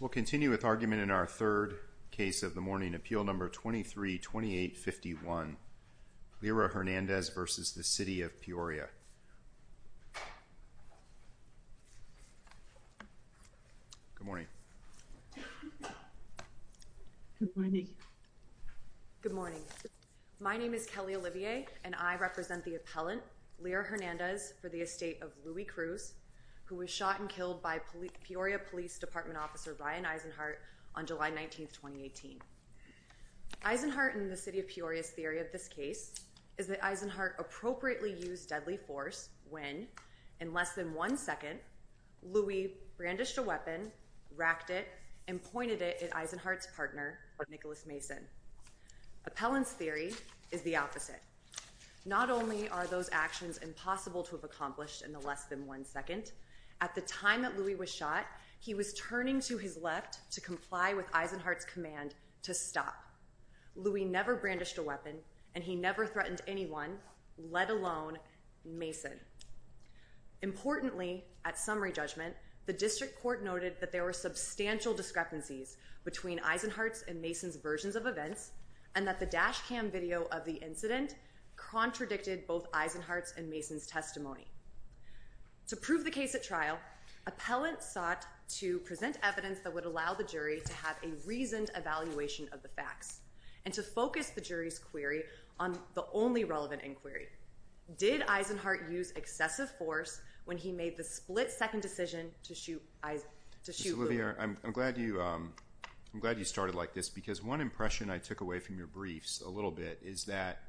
We'll continue with argument in our third case of the morning, Appeal No. 23-2851, Lirrah Hernandez v. City of Peoria. Good morning. Good morning. Good morning. My name is Kelly Olivier and I represent the appellant, Lirrah Hernandez, for the estate department officer, Brian Eisenhardt, on July 19, 2018. Eisenhardt and the City of Peoria's theory of this case is that Eisenhardt appropriately used deadly force when, in less than one second, Louis brandished a weapon, racked it, and pointed it at Eisenhardt's partner, Nicholas Mason. Appellant's theory is the opposite. Not only are those actions impossible to have accomplished in the less than one second, at the time that Louis was shot, he was turning to his left to comply with Eisenhardt's command to stop. Louis never brandished a weapon and he never threatened anyone, let alone Mason. Importantly, at summary judgment, the district court noted that there were substantial discrepancies between Eisenhardt's and Mason's versions of events and that the dash cam video of the incident contradicted both Eisenhardt's and Mason's testimony. To prove the case at trial, appellants sought to present evidence that would allow the jury to have a reasoned evaluation of the facts and to focus the jury's query on the only relevant inquiry. Did Eisenhardt use excessive force when he made the split-second decision to shoot Louis? Mr. Lilliard, I'm glad you started like this because one impression I took away from your briefs a little bit is that,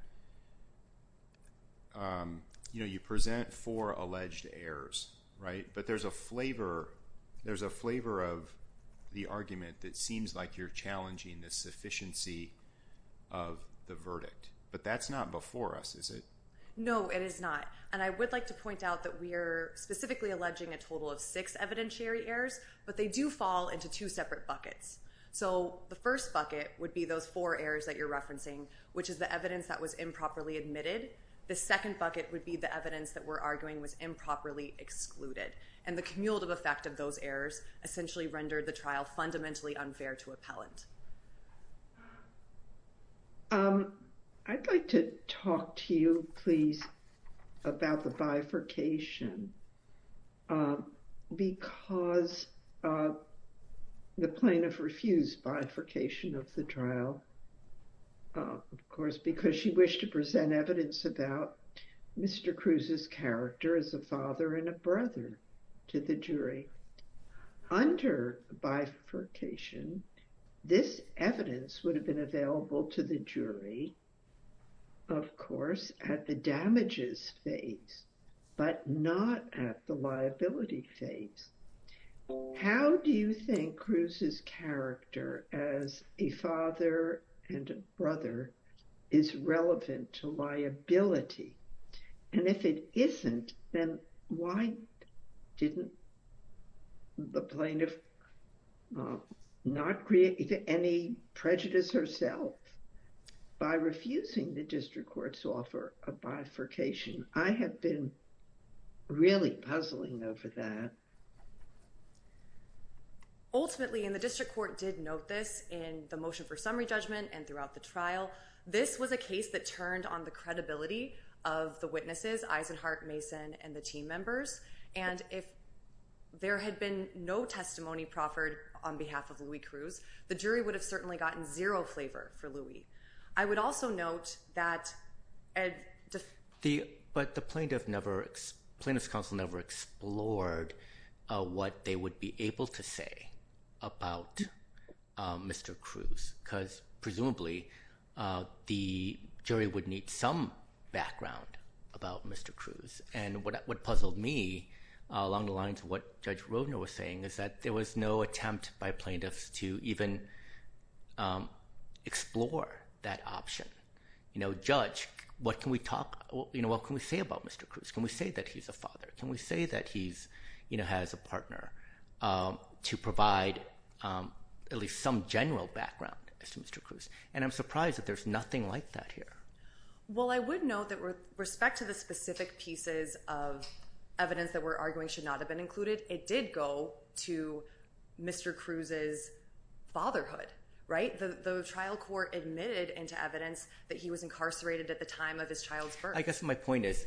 you know, you present four alleged errors, right? But there's a flavor of the argument that seems like you're challenging the sufficiency of the verdict. But that's not before us, is it? No, it is not. And I would like to point out that we are specifically alleging a total of six evidentiary errors, but they do fall into two separate buckets. So the first bucket would be those four errors that you're referencing, which is the evidence that was improperly admitted. The second bucket would be the evidence that we're arguing was improperly excluded. And the cumulative effect of those errors essentially rendered the trial fundamentally unfair to appellant. I'd like to talk to you, please, about the bifurcation because the plaintiff refused bifurcation of the trial, of course, because she wished to present evidence about Mr. Cruz's character as a father and a brother to the jury. Under bifurcation, this evidence would have been available to the jury, of course, at the damages phase, but not at the liability phase. How do you think Cruz's character as a father and a brother is relevant to liability? And if it isn't, then why didn't the plaintiff not create any prejudice herself by refusing the district court's offer of bifurcation? I have been really puzzling over that. Ultimately, and the district court did note this in the motion for summary judgment and throughout the trial, this was a case that turned on the credibility of the witnesses, Eisenhardt, Mason, and the team members. And if there had been no testimony proffered on behalf of Louis Cruz, the jury would have certainly gotten zero flavor for Louis. I would also note that... But the plaintiff's counsel never explored what they would be able to say about Mr. Cruz because presumably the jury would need some background about Mr. Cruz. And what puzzled me along the lines of what Judge Roedner was saying is that there was no attempt by plaintiffs to even explore that option. You know, Judge, what can we say about Mr. Cruz? Can we say that he's a father? Can we say that he has a partner to provide at least some general background as to Mr. And I'm surprised that there's nothing like that here. Well, I would note that with respect to the specific pieces of evidence that we're arguing should not have been included, it did go to Mr. Cruz's fatherhood, right? The trial court admitted into evidence that he was incarcerated at the time of his child's birth. But I guess my point is,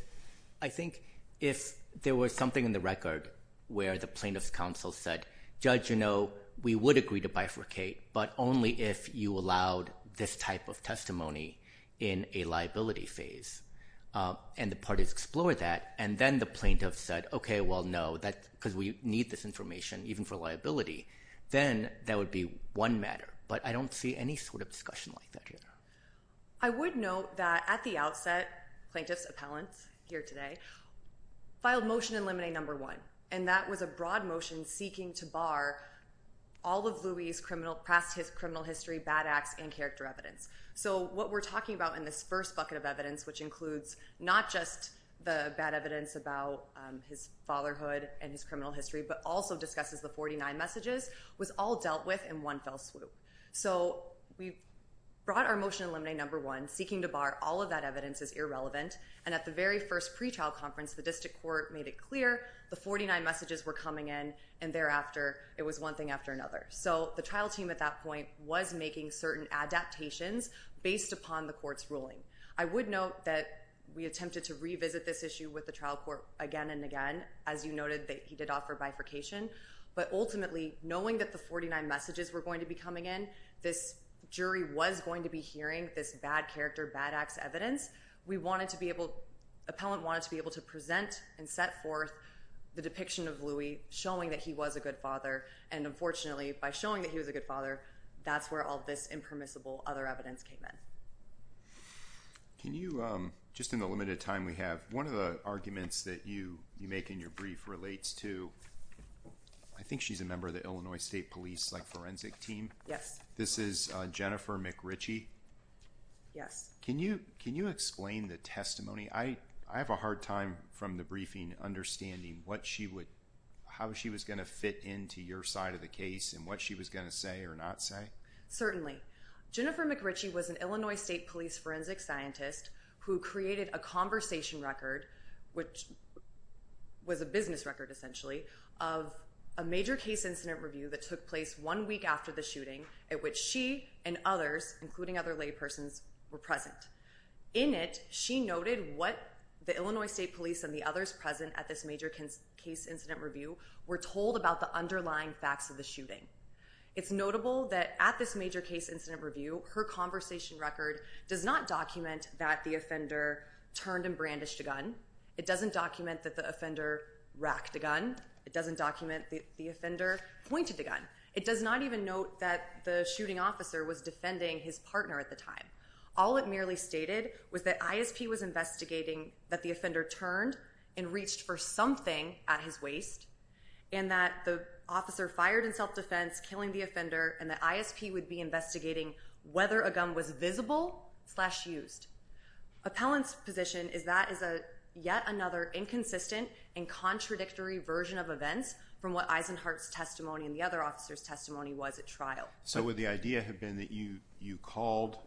I think if there was something in the record where the plaintiff's counsel said, Judge, you know, we would agree to bifurcate, but only if you allowed this type of testimony in a liability phase. And the parties explored that, and then the plaintiff said, okay, well, no, because we need this information even for liability, then that would be one matter. But I don't see any sort of discussion like that here. I would note that at the outset, plaintiff's appellants here today filed Motion in Limine No. 1, and that was a broad motion seeking to bar all of Louie's past criminal history, bad acts, and character evidence. So what we're talking about in this first bucket of evidence, which includes not just the bad evidence about his fatherhood and his criminal history, but also discusses the 49 messages, was all dealt with in one fell swoop. So we brought our Motion in Limine No. 1, seeking to bar all of that evidence as irrelevant, and at the very first pretrial conference, the district court made it clear the 49 messages were coming in, and thereafter, it was one thing after another. So the trial team at that point was making certain adaptations based upon the court's ruling. I would note that we attempted to revisit this issue with the trial court again and again. As you noted, he did offer bifurcation. But ultimately, knowing that the 49 messages were going to be coming in, this jury was going to be hearing this bad character, bad acts evidence. We wanted to be able—appellant wanted to be able to present and set forth the depiction of Louie, showing that he was a good father. And unfortunately, by showing that he was a good father, that's where all this impermissible other evidence came in. Can you, just in the limited time we have, one of the arguments that you make in your brief relates to—I think she's a member of the Illinois State Police Forensic Team. Yes. This is Jennifer McRitchie. Yes. Can you explain the testimony? I have a hard time, from the briefing, understanding what she would—how she was going to fit into your side of the case and what she was going to say or not say. Certainly. Jennifer McRitchie was an Illinois State Police forensic scientist who created a conversation record, which was a business record essentially, of a major case incident review that took place one week after the shooting at which she and others, including other laypersons, were present. In it, she noted what the Illinois State Police and the others present at this major case incident review were told about the underlying facts of the shooting. It's notable that at this major case incident review, her conversation record does not document that the offender turned and brandished a gun. It doesn't document that the offender racked a gun. It doesn't document that the offender pointed a gun. It does not even note that the shooting officer was defending his partner at the time. All it merely stated was that ISP was investigating that the offender turned and reached for something at his waist, and that the officer fired in self-defense, killing the offender, and that Appellant's position is that is yet another inconsistent and contradictory version of events from what Eisenhardt's testimony and the other officer's testimony was at trial. So would the idea have been that you called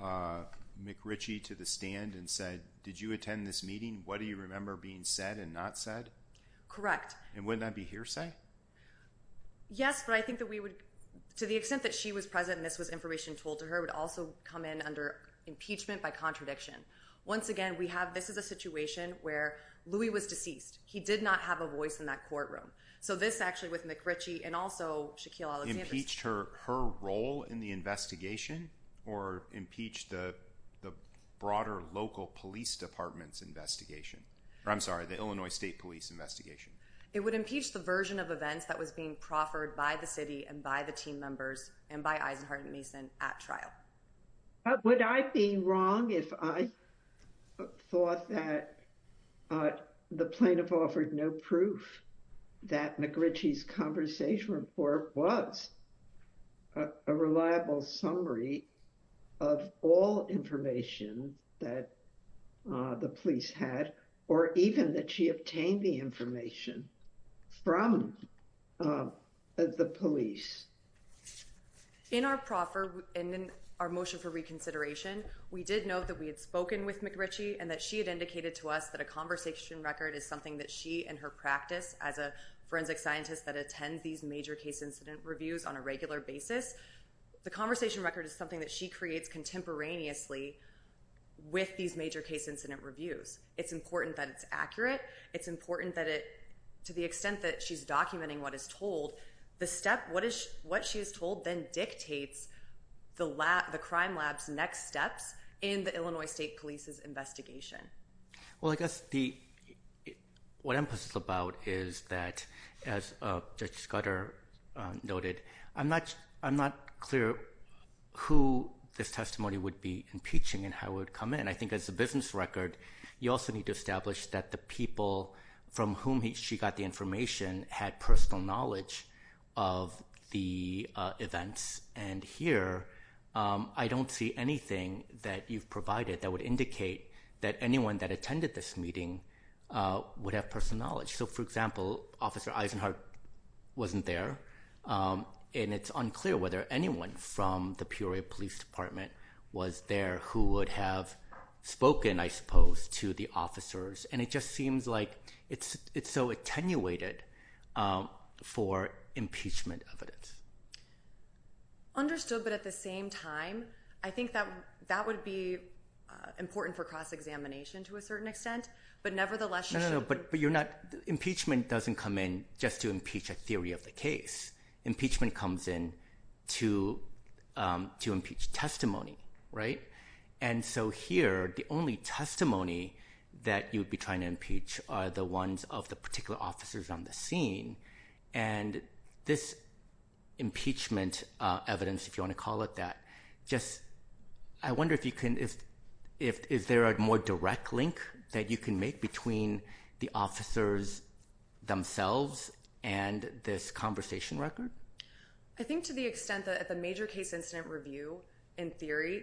McRitchie to the stand and said, did you attend this meeting? What do you remember being said and not said? Correct. And wouldn't that be hearsay? Yes, but I think that we would, to the extent that she was present and this was information told to her, would also come in under impeachment by contradiction. Once again, we have, this is a situation where Louie was deceased. He did not have a voice in that courtroom. So this actually with McRitchie and also Shaquille Alexander's- Impeached her role in the investigation or impeached the broader local police department's investigation? Or I'm sorry, the Illinois State Police investigation. It would impeach the version of events that was being proffered by the city and by the commission members and by Eisenhardt and Mason at trial. Would I be wrong if I thought that the plaintiff offered no proof that McRitchie's conversation report was a reliable summary of all information that the police had, or even that she obtained the information from the police? In our proffer and in our motion for reconsideration, we did note that we had spoken with McRitchie and that she had indicated to us that a conversation record is something that she and her practice as a forensic scientist that attends these major case incident reviews on a regular basis, the conversation record is something that she creates contemporaneously with these major case incident reviews. It's important that it's accurate. It's important that it, to the extent that she's documenting what is told, the step, what she is told then dictates the crime lab's next steps in the Illinois State Police's Well, I guess what I'm puzzled about is that, as Judge Scudder noted, I'm not clear who this testimony would be impeaching and how it would come in. And I think as a business record, you also need to establish that the people from whom she got the information had personal knowledge of the events. And here, I don't see anything that you've provided that would indicate that anyone that attended this meeting would have personal knowledge. So for example, Officer Eisenhardt wasn't there, and it's unclear whether anyone from the Peoria Police Department was there who would have spoken, I suppose, to the officers. And it just seems like it's so attenuated for impeachment evidence. Understood, but at the same time, I think that would be important for cross-examination to a certain extent, but nevertheless, you should No, no, no, but you're not, impeachment doesn't come in just to impeach a theory of the case. Impeachment comes in to impeach testimony, right? And so here, the only testimony that you'd be trying to impeach are the ones of the particular officers on the scene. And this impeachment evidence, if you want to call it that, just, I wonder if you can, is there a more direct link that you can make between the officers themselves and this conversation record? I think to the extent that at the major case incident review, in theory,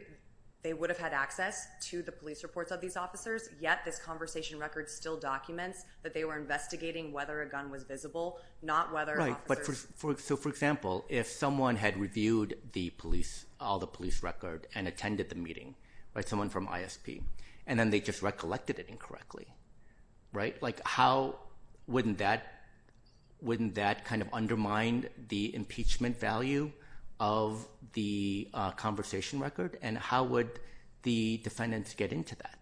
they would have had access to the police reports of these officers, yet this conversation record still documents that they were investigating whether a gun was visible, not whether officers Right, but for, so for example, if someone had reviewed the police, all the police record and attended the meeting, right, someone from ISP, and then they just recollected it incorrectly, right, like, how wouldn't that, wouldn't that kind of undermine the impeachment value of the conversation record? And how would the defendants get into that?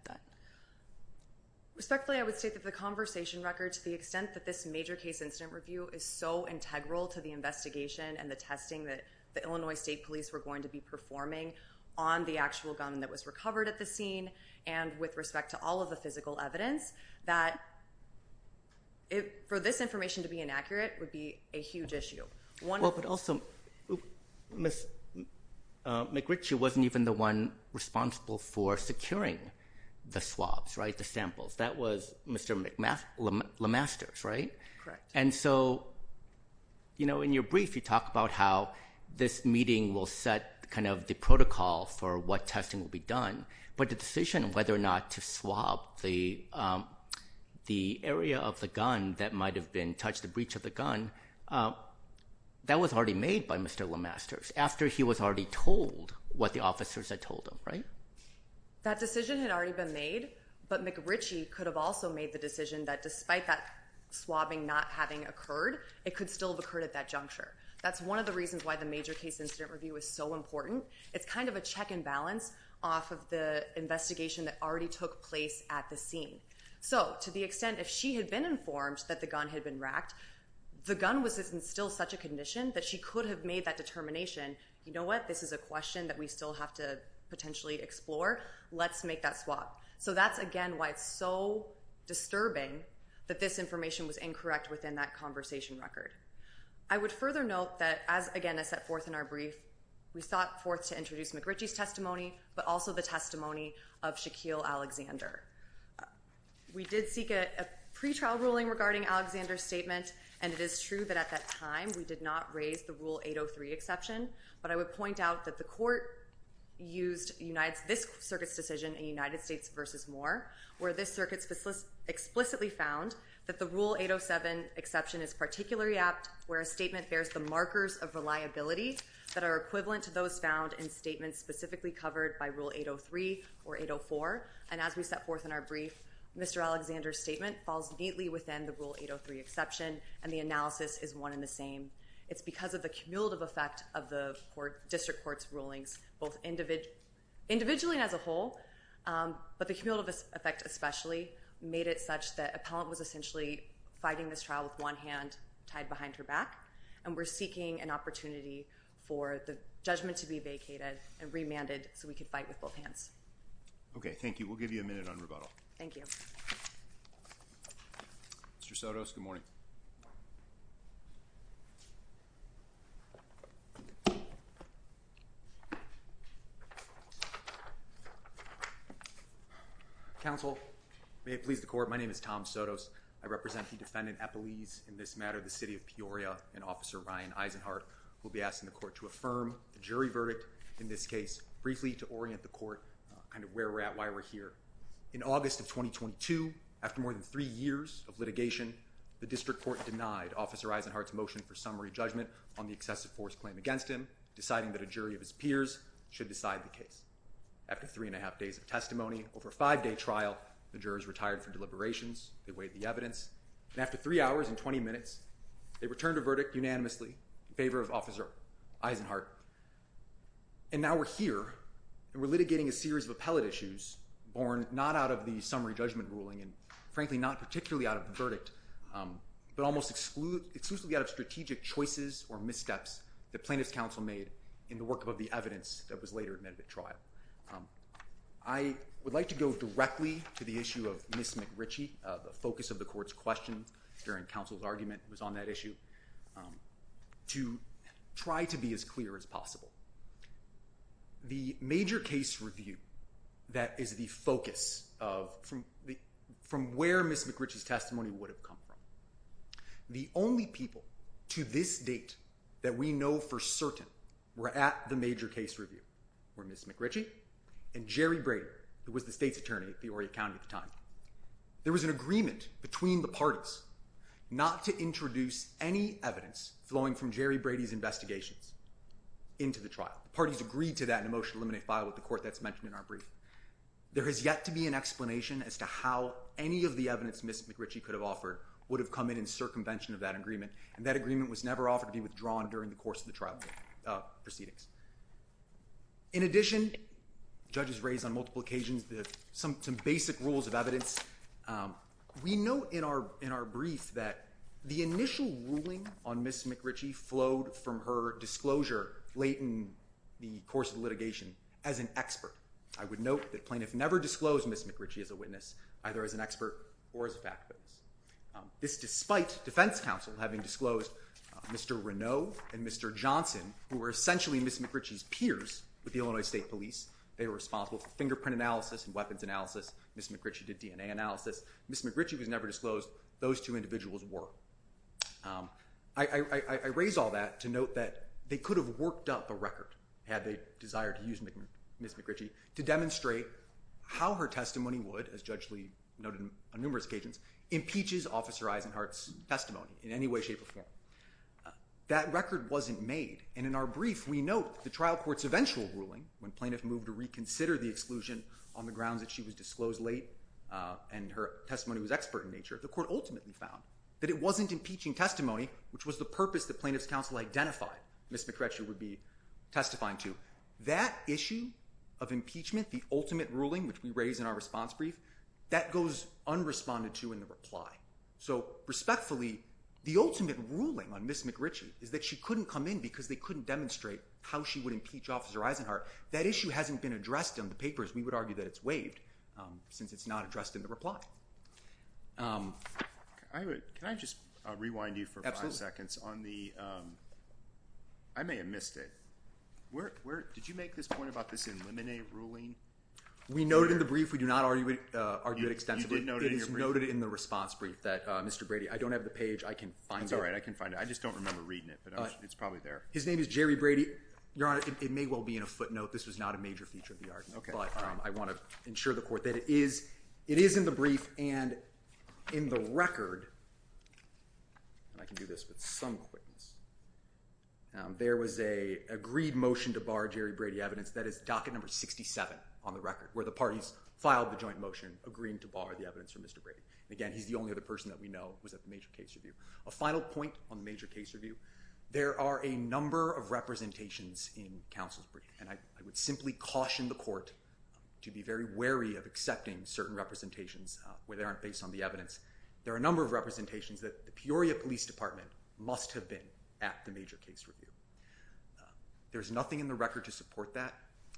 Respectfully, I would say that the conversation records, the extent that this major case incident review is so integral to the investigation and the testing that the Illinois State Police were going to be performing on the actual gun that was recovered at the scene. And with respect to all of the physical evidence, that, for this information to be inaccurate would be a huge issue. Well but also, Ms. McRitchie wasn't even the one responsible for securing the swabs, right, the samples. That was Mr. LeMasters, right? And so, you know, in your brief, you talk about how this meeting will set kind of the protocol for what testing will be done, but the decision whether or not to swab the area of the gun that might have been, touched the breech of the gun, that was already made by Mr. LeMasters after he was already told what the officers had told him, right? That decision had already been made, but McRitchie could have also made the decision that despite that swabbing not having occurred, it could still have occurred at that juncture. That's one of the reasons why the major case incident review is so important. It's kind of a check and balance off of the investigation that already took place at the scene. So to the extent if she had been informed that the gun had been racked, the gun was still in such a condition that she could have made that determination, you know what, this is a question that we still have to potentially explore, let's make that swab. So that's again why it's so disturbing that this information was incorrect within that conversation record. I would further note that as, again, as set forth in our brief, we sought forth to introduce McRitchie's testimony, but also the testimony of Shaquille Alexander. We did seek a pretrial ruling regarding Alexander's statement, and it is true that at that time we did not raise the Rule 803 exception, but I would point out that the court used this circuit's decision in United States versus Moore, where this circuit explicitly found that the Rule 807 exception is particularly apt where a statement bears the markers of reliability that are equivalent to those found in statements specifically covered by Rule 803 or 804, and as we set forth in our brief, Mr. Alexander's statement falls neatly within the Rule 803 exception, and the analysis is one and the same. It's because of the cumulative effect of the district court's rulings, both individually and as a whole, but the cumulative effect especially made it such that appellant was essentially fighting this trial with one hand tied behind her back, and we're seeking an opportunity for the judgment to be vacated and remanded so we could fight with both hands. Okay. Thank you. We'll give you a minute on rebuttal. Thank you. Mr. Sotos, good morning. Counsel, may it please the court, my name is Tom Sotos. I represent the defendant, Epeliz, in this matter, the city of Peoria, and Officer Ryan Eisenhardt will be asking the court to affirm the jury verdict in this case briefly to orient the court kind of where we're at, why we're here. In August of 2022, after more than three years of litigation, the district court denied Officer Eisenhardt's motion for summary judgment on the excessive force claim against him, deciding that a jury of his peers should decide the case. After three and a half days of testimony, over a five-day trial, the jurors retired from deliberations, they weighed the evidence, and after three hours and 20 minutes, they returned a verdict unanimously in favor of Officer Eisenhardt. And now we're here, and we're litigating a series of appellate issues born not out of the summary judgment ruling and frankly not particularly out of the verdict, but almost exclusively out of strategic choices or missteps that plaintiff's counsel made in the work of the evidence that was later admitted at trial. I would like to go directly to the issue of Ms. McRitchie, the focus of the court's question during counsel's argument was on that issue, to try to be as clear as possible. The major case review that is the focus of from where Ms. McRitchie's testimony would have come from. The only people to this date that we know for certain were at the major case review were Ms. McRitchie and Jerry Brady, who was the state's attorney at the Orea County at the time. There was an agreement between the parties not to introduce any evidence flowing from Jerry Brady's investigations into the trial. Parties agreed to that in a motion to eliminate file with the court that's mentioned in our brief. There has yet to be an explanation as to how any of the evidence Ms. McRitchie could have offered would have come in circumvention of that agreement, and that agreement was never offered to be withdrawn during the course of the trial proceedings. In addition, judges raised on multiple occasions some basic rules of evidence. We know in our brief that the initial ruling on Ms. McRitchie flowed from her disclosure late in the course of litigation as an expert. I would note that plaintiff never disclosed Ms. McRitchie as a witness, either as an expert or as a fact base. This despite defense counsel having disclosed Mr. Reneau and Mr. Johnson, who were essentially Ms. McRitchie's peers with the Illinois State Police. They were responsible for fingerprint analysis and weapons analysis. Ms. McRitchie did DNA analysis. Ms. McRitchie was never disclosed. Those two individuals were. I raise all that to note that they could have worked up a record had they desired to use Ms. McRitchie to demonstrate how her testimony would, as Judge Lee noted on numerous occasions, impeaches Officer Eisenhardt's testimony in any way, shape, or form. That record wasn't made, and in our brief, we note the trial court's eventual ruling when plaintiff moved to reconsider the exclusion on the grounds that she was disclosed late and her testimony was expert in nature. The court ultimately found that it wasn't impeaching testimony, which was the purpose that plaintiff's counsel identified Ms. McRitchie would be testifying to. That issue of impeachment, the ultimate ruling, which we raise in our response brief, that goes unresponded to in the reply. So, respectfully, the ultimate ruling on Ms. McRitchie is that she couldn't come in because they couldn't demonstrate how she would impeach Officer Eisenhardt. That issue hasn't been addressed in the papers. We would argue that it's waived since it's not addressed in the reply. Can I just rewind you for five seconds on the, I may have missed it, did you make this point about this eliminate ruling? We noted in the brief, we do not argue it extensively, it is noted in the response brief that Mr. Brady, I don't have the page, I can find it. That's all right, I can find it. I just don't remember reading it, but it's probably there. His name is Jerry Brady. Your Honor, it may well be in a footnote. This was not a major feature of the argument, but I want to ensure the court that it is in the brief and in the record, and I can do this with some quickness, there was a agreed motion to bar Jerry Brady evidence, that is docket number 67 on the record, where the parties filed the joint motion agreeing to bar the evidence from Mr. Brady. Again, he's the only other person that we know was at the major case review. A final point on the major case review, there are a number of representations in counsel's brief, and I would simply caution the court to be very wary of accepting certain representations where they aren't based on the evidence. There are a number of representations that the Peoria Police Department must have been at the major case review. There's nothing in the record to support that,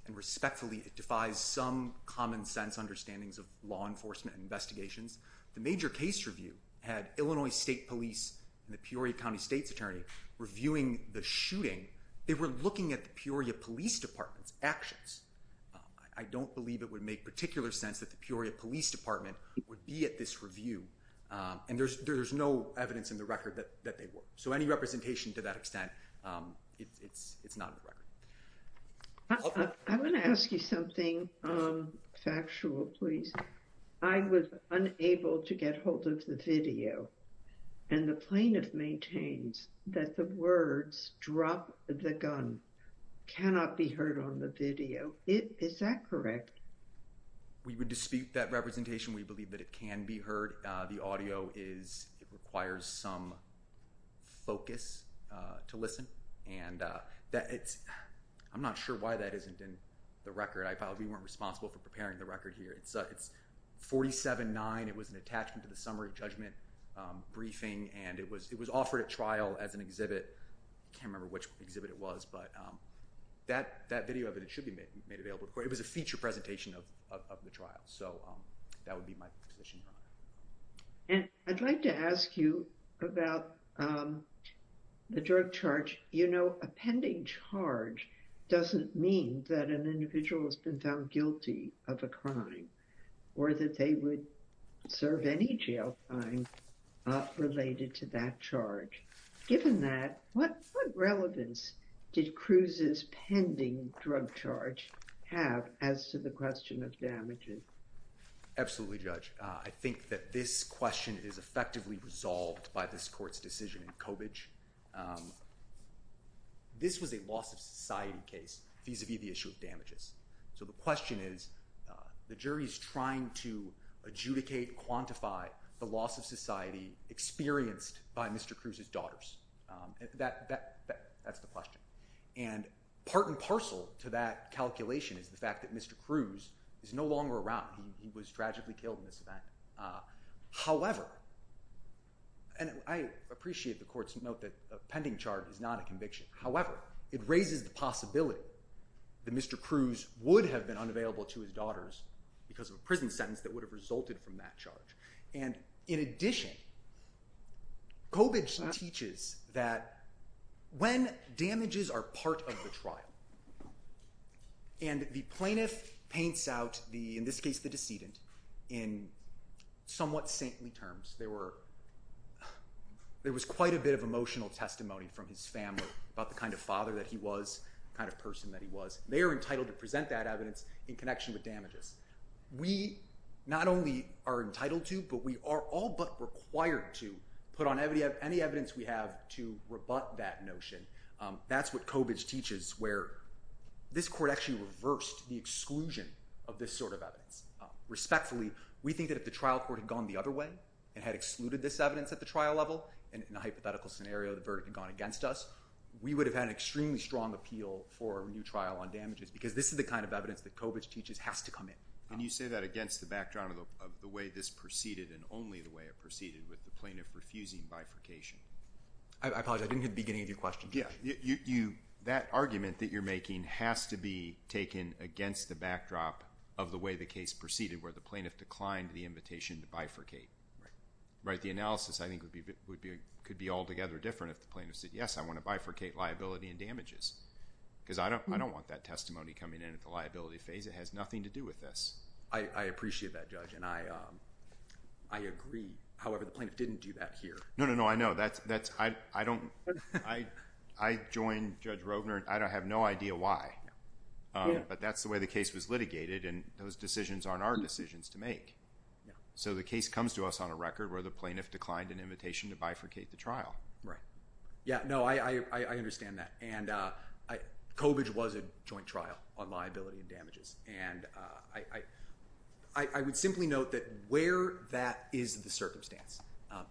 and respectfully, it defies some common sense understandings of law enforcement and investigations. The major case review had Illinois State Police and the Peoria County State's Attorney reviewing the shooting. They were looking at the Peoria Police Department's actions. I don't believe it would make particular sense that the Peoria Police Department would be at this review, and there's no evidence in the record that they were. So any representation to that extent, it's not in the record. I want to ask you something factual, please. I was unable to get hold of the video, and the plaintiff maintains that the words, drop the gun, cannot be heard on the video. Is that correct? We would dispute that representation. We believe that it can be heard. The audio is, it requires some focus to listen, and that it's, I'm not sure why that isn't in the record. I probably weren't responsible for preparing the record here. It's 47-9. It was an attachment to the summary judgment briefing, and it was, it was offered at trial as an exhibit. I can't remember which exhibit it was, but that, that video of it, it should be made available. It was a feature presentation of the trial, so that would be my position. And I'd like to ask you about the drug charge. You know, a pending charge doesn't mean that an individual has been found guilty of a crime, or that they would serve any jail time related to that charge. Given that, what, what relevance did Cruz's pending drug charge have as to the question of damages? Absolutely, Judge. I think that this question is effectively resolved by this Court's decision in Cobage. This was a loss-of-society case vis-a-vis the issue of damages, so the question is, the jury's trying to adjudicate, quantify the loss-of-society experienced by Mr. Cruz's That, that, that, that's the question. And part and parcel to that calculation is the fact that Mr. Cruz is no longer around. He was tragically killed in this event. However, and I appreciate the Court's note that a pending charge is not a conviction. However, it raises the possibility that Mr. Cruz would have been unavailable to his daughters because of a prison sentence that would have resulted from that charge. And in addition, Cobage teaches that when damages are part of the trial, and the plaintiff paints out the, in this case, the decedent, in somewhat saintly terms, there were, there was quite a bit of emotional testimony from his family about the kind of father that he was, the kind of person that he was. They are entitled to present that evidence in connection with damages. We not only are entitled to, but we are all but required to put on any evidence we have to rebut that notion. That's what Cobage teaches, where this Court actually reversed the exclusion of this sort of evidence. Respectfully, we think that if the trial court had gone the other way and had excluded this evidence at the trial level, in a hypothetical scenario, the verdict had gone against us, we would have had an extremely strong appeal for a new trial on damages, because this is the kind of evidence that Cobage teaches has to come in. And you say that against the backdrop of the way this proceeded and only the way it proceeded with the plaintiff refusing bifurcation. I apologize, I didn't hear the beginning of your question. That argument that you're making has to be taken against the backdrop of the way the case proceeded, where the plaintiff declined the invitation to bifurcate. Right. The analysis, I think, could be altogether different if the plaintiff said, yes, I want to bifurcate liability and damages, because I don't want that testimony coming in at the liability phase. It has nothing to do with this. I appreciate that, Judge, and I agree, however, the plaintiff didn't do that here. No, no, no. I know. I joined Judge Robner, and I have no idea why, but that's the way the case was litigated, and those decisions aren't our decisions to make. So the case comes to us on a record where the plaintiff declined an invitation to bifurcate the trial. Yeah, no, I understand that, and Cobage was a joint trial on liability and damages, and I would simply note that where that is the circumstance,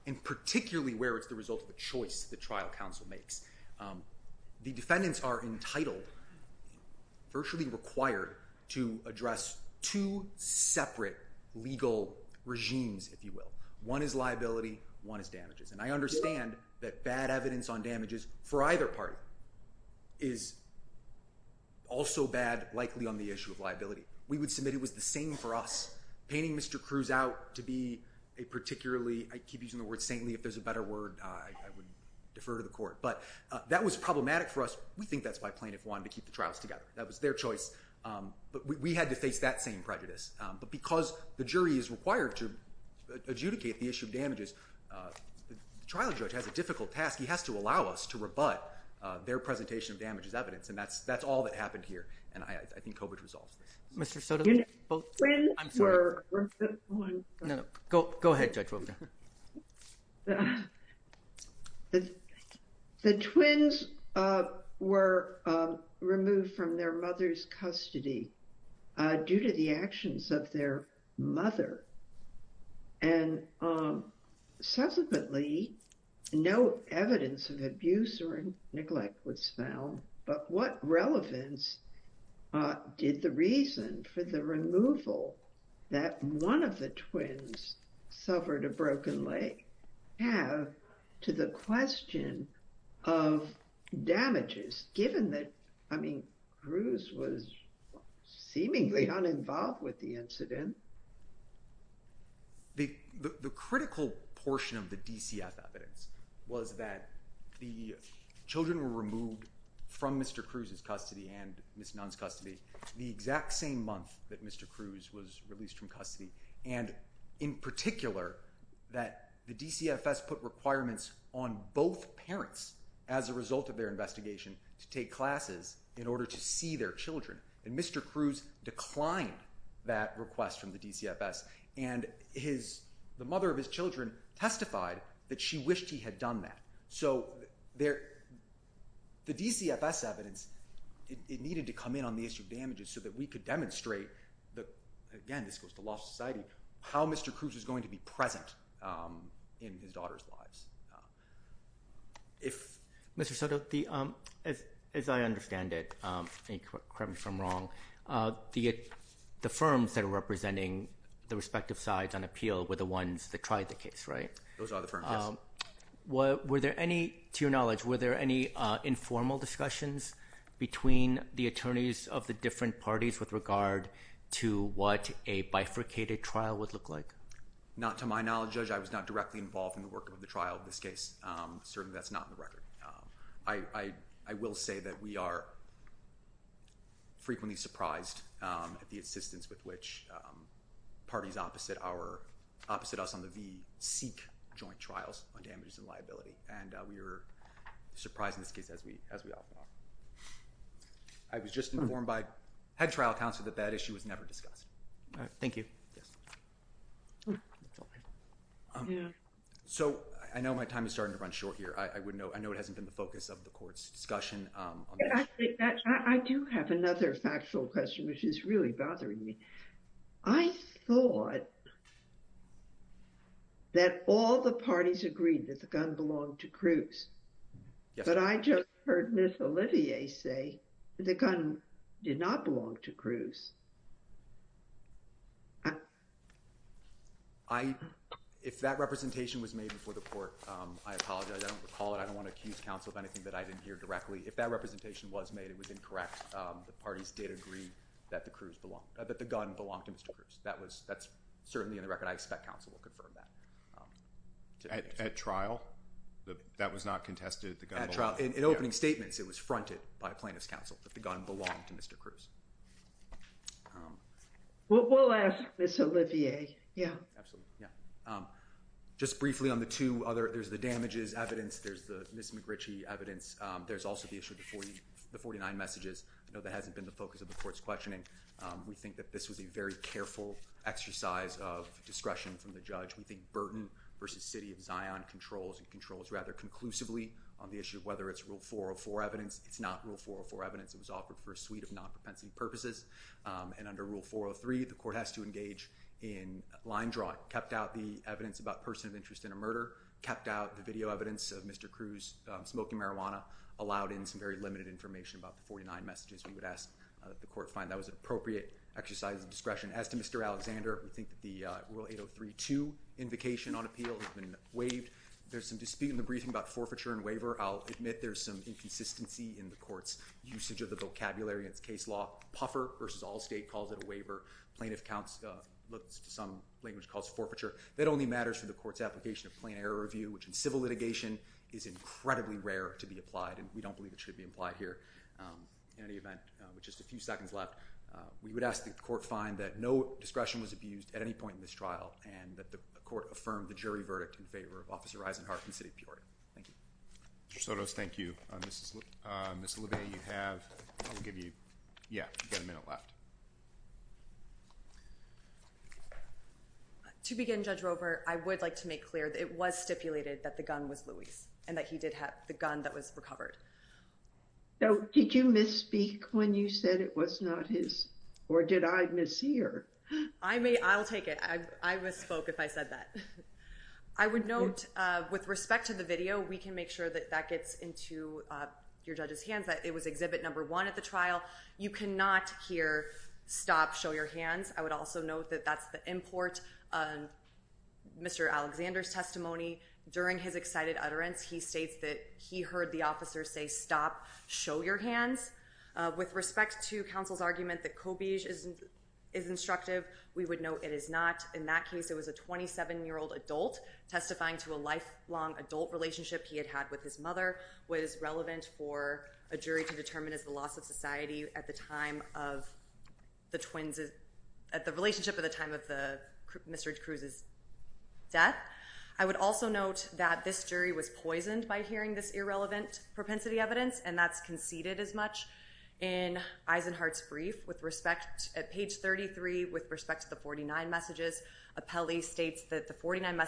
and particularly where it's the result of a choice the trial counsel makes, the defendants are entitled, virtually required, to address two separate legal regimes, if you will. One is liability, one is damages, and I understand that bad evidence on damages for either party is also bad, likely, on the issue of liability. We would submit it was the same for us, painting Mr. Cruz out to be a particularly, I keep using the word saintly. If there's a better word, I would defer to the court, but that was problematic for us. We think that's why plaintiff wanted to keep the trials together. That was their choice, but we had to face that same prejudice, but because the jury is required to adjudicate the issue of damages, the trial judge has a difficult task. He has to allow us to rebut their presentation of damages evidence, and that's all that happened here, and I think Cobage resolves this. Mr. Soto, both, I'm sorry, no, no, go ahead, Judge Wilk. The twins were removed from their mother's custody due to the actions of their mother, and subsequently, no evidence of abuse or neglect was found, but what relevance did the reason for the removal that one of the twins suffered a broken leg have to the question of damages, given that, I mean, Cruz was seemingly uninvolved with the incident? The critical portion of the DCF evidence was that the children were removed from Mr. Cruz's custody in the exact same month that Mr. Cruz was released from custody, and in particular, that the DCFS put requirements on both parents as a result of their investigation to take classes in order to see their children, and Mr. Cruz declined that request from the DCFS, and the mother of his children testified that she wished he had done that. So, the DCFS evidence, it needed to come in on the issue of damages so that we could demonstrate that, again, this goes to law society, how Mr. Cruz was going to be present in his daughter's lives. Mr. Soto, as I understand it, correct me if I'm wrong, the firms that are representing the respective sides on appeal were the ones that tried the case, right? Those are the firms, yes. Were there any, to your knowledge, were there any informal discussions between the attorneys of the different parties with regard to what a bifurcated trial would look like? Not to my knowledge, Judge. I was not directly involved in the work of the trial of this case. Certainly, that's not in the record. I will say that we are frequently surprised at the insistence with which parties opposite us on the V seek joint trials on damages and liability, and we are surprised in this case as we often are. I was just informed by head trial counsel that that issue was never discussed. Thank you. Yes. So, I know my time is starting to run short here. I would note, I know it hasn't been the focus of the court's discussion. I do have another factual question, which is really bothering me. I thought that all the parties agreed that the gun belonged to Cruz. Yes. But I just heard Ms. Olivier say the gun did not belong to Cruz. I, if that representation was made before the court, I apologize. I don't recall it. I don't want to accuse counsel of anything that I didn't hear directly. If that representation was made, it was incorrect. The parties did agree that the gun belonged to Mr. Cruz. That's certainly in the record. I expect counsel will confirm that. At trial? That was not contested? At trial? In opening statements, it was fronted by plaintiff's counsel that the gun belonged to Mr. Cruz. We'll ask Ms. Olivier. Absolutely. Yeah. Just briefly on the two other, there's the damages evidence, there's the Ms. McGritchie evidence. There's also the issue of the 49 messages. I know that hasn't been the focus of the court's questioning. We think that this was a very careful exercise of discretion from the judge. We think Burton v. City of Zion controls rather conclusively on the issue of whether it's Rule 404 evidence. It's not Rule 404 evidence. It was offered for a suite of non-propensity purposes. And under Rule 403, the court has to engage in line drawing. Kept out the evidence about person of interest in a murder. Kept out the video evidence of Mr. Cruz smoking marijuana. Allowed in some very limited information about the 49 messages we would ask that the court find that was an appropriate exercise of discretion. As to Mr. Alexander, we think that the Rule 803-2 invocation on appeal has been waived. There's some dispute in the briefing about forfeiture and waiver. I'll admit there's some inconsistency in the court's usage of the vocabulary in its case law. Puffer v. Allstate calls it a waiver. Plaintiff counsel looks to some language and calls it forfeiture. That only matters for the court's application of plain error review, which in civil litigation is incredibly rare to be applied, and we don't believe it should be applied here in any event. With just a few seconds left, we would ask the court find that no discretion was abused at any point in this trial and that the court affirm the jury verdict in favor of Officer Eisenhardt and City of Peoria. Thank you. Mr. Sotos, thank you. Ms. Olivier, you have, I'll give you, yeah, you've got a minute left. To begin, Judge Roper, I would like to make clear that it was stipulated that the gun was Louie's and that he did have the gun that was recovered. Now, did you misspeak when you said it was not his, or did I miss hear? I may, I'll take it. I misspoke if I said that. I would note, with respect to the video, we can make sure that that gets into your judge's hands, that it was exhibit number one at the trial. You cannot hear, stop, show your hands. I would also note that that's the import, Mr. Alexander's testimony. During his excited utterance, he states that he heard the officer say, stop, show your hands. With respect to counsel's argument that Cobige is instructive, we would note it is not. In that case, it was a 27-year-old adult testifying to a lifelong adult relationship he had had with his mother was relevant for a jury to determine as the loss of society at the time of the twins, at the relationship at the time of Mr. Cruz's death. I would also note that this jury was poisoned by hearing this irrelevant propensity evidence, and that's conceded as much in Eisenhardt's brief. With respect, at page 33, with respect to the 49 messages, Apelli states that the 49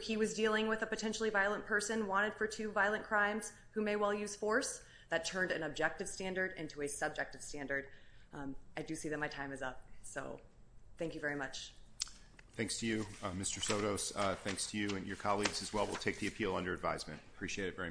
he was dealing with a potentially violent person, wanted for two violent crimes, who may well use force, that turned an objective standard into a subjective standard. I do see that my time is up, so thank you very much. Thanks to you, Mr. Sotos. Thanks to you and your colleagues as well. We'll take the appeal under advisement. I appreciate it very much.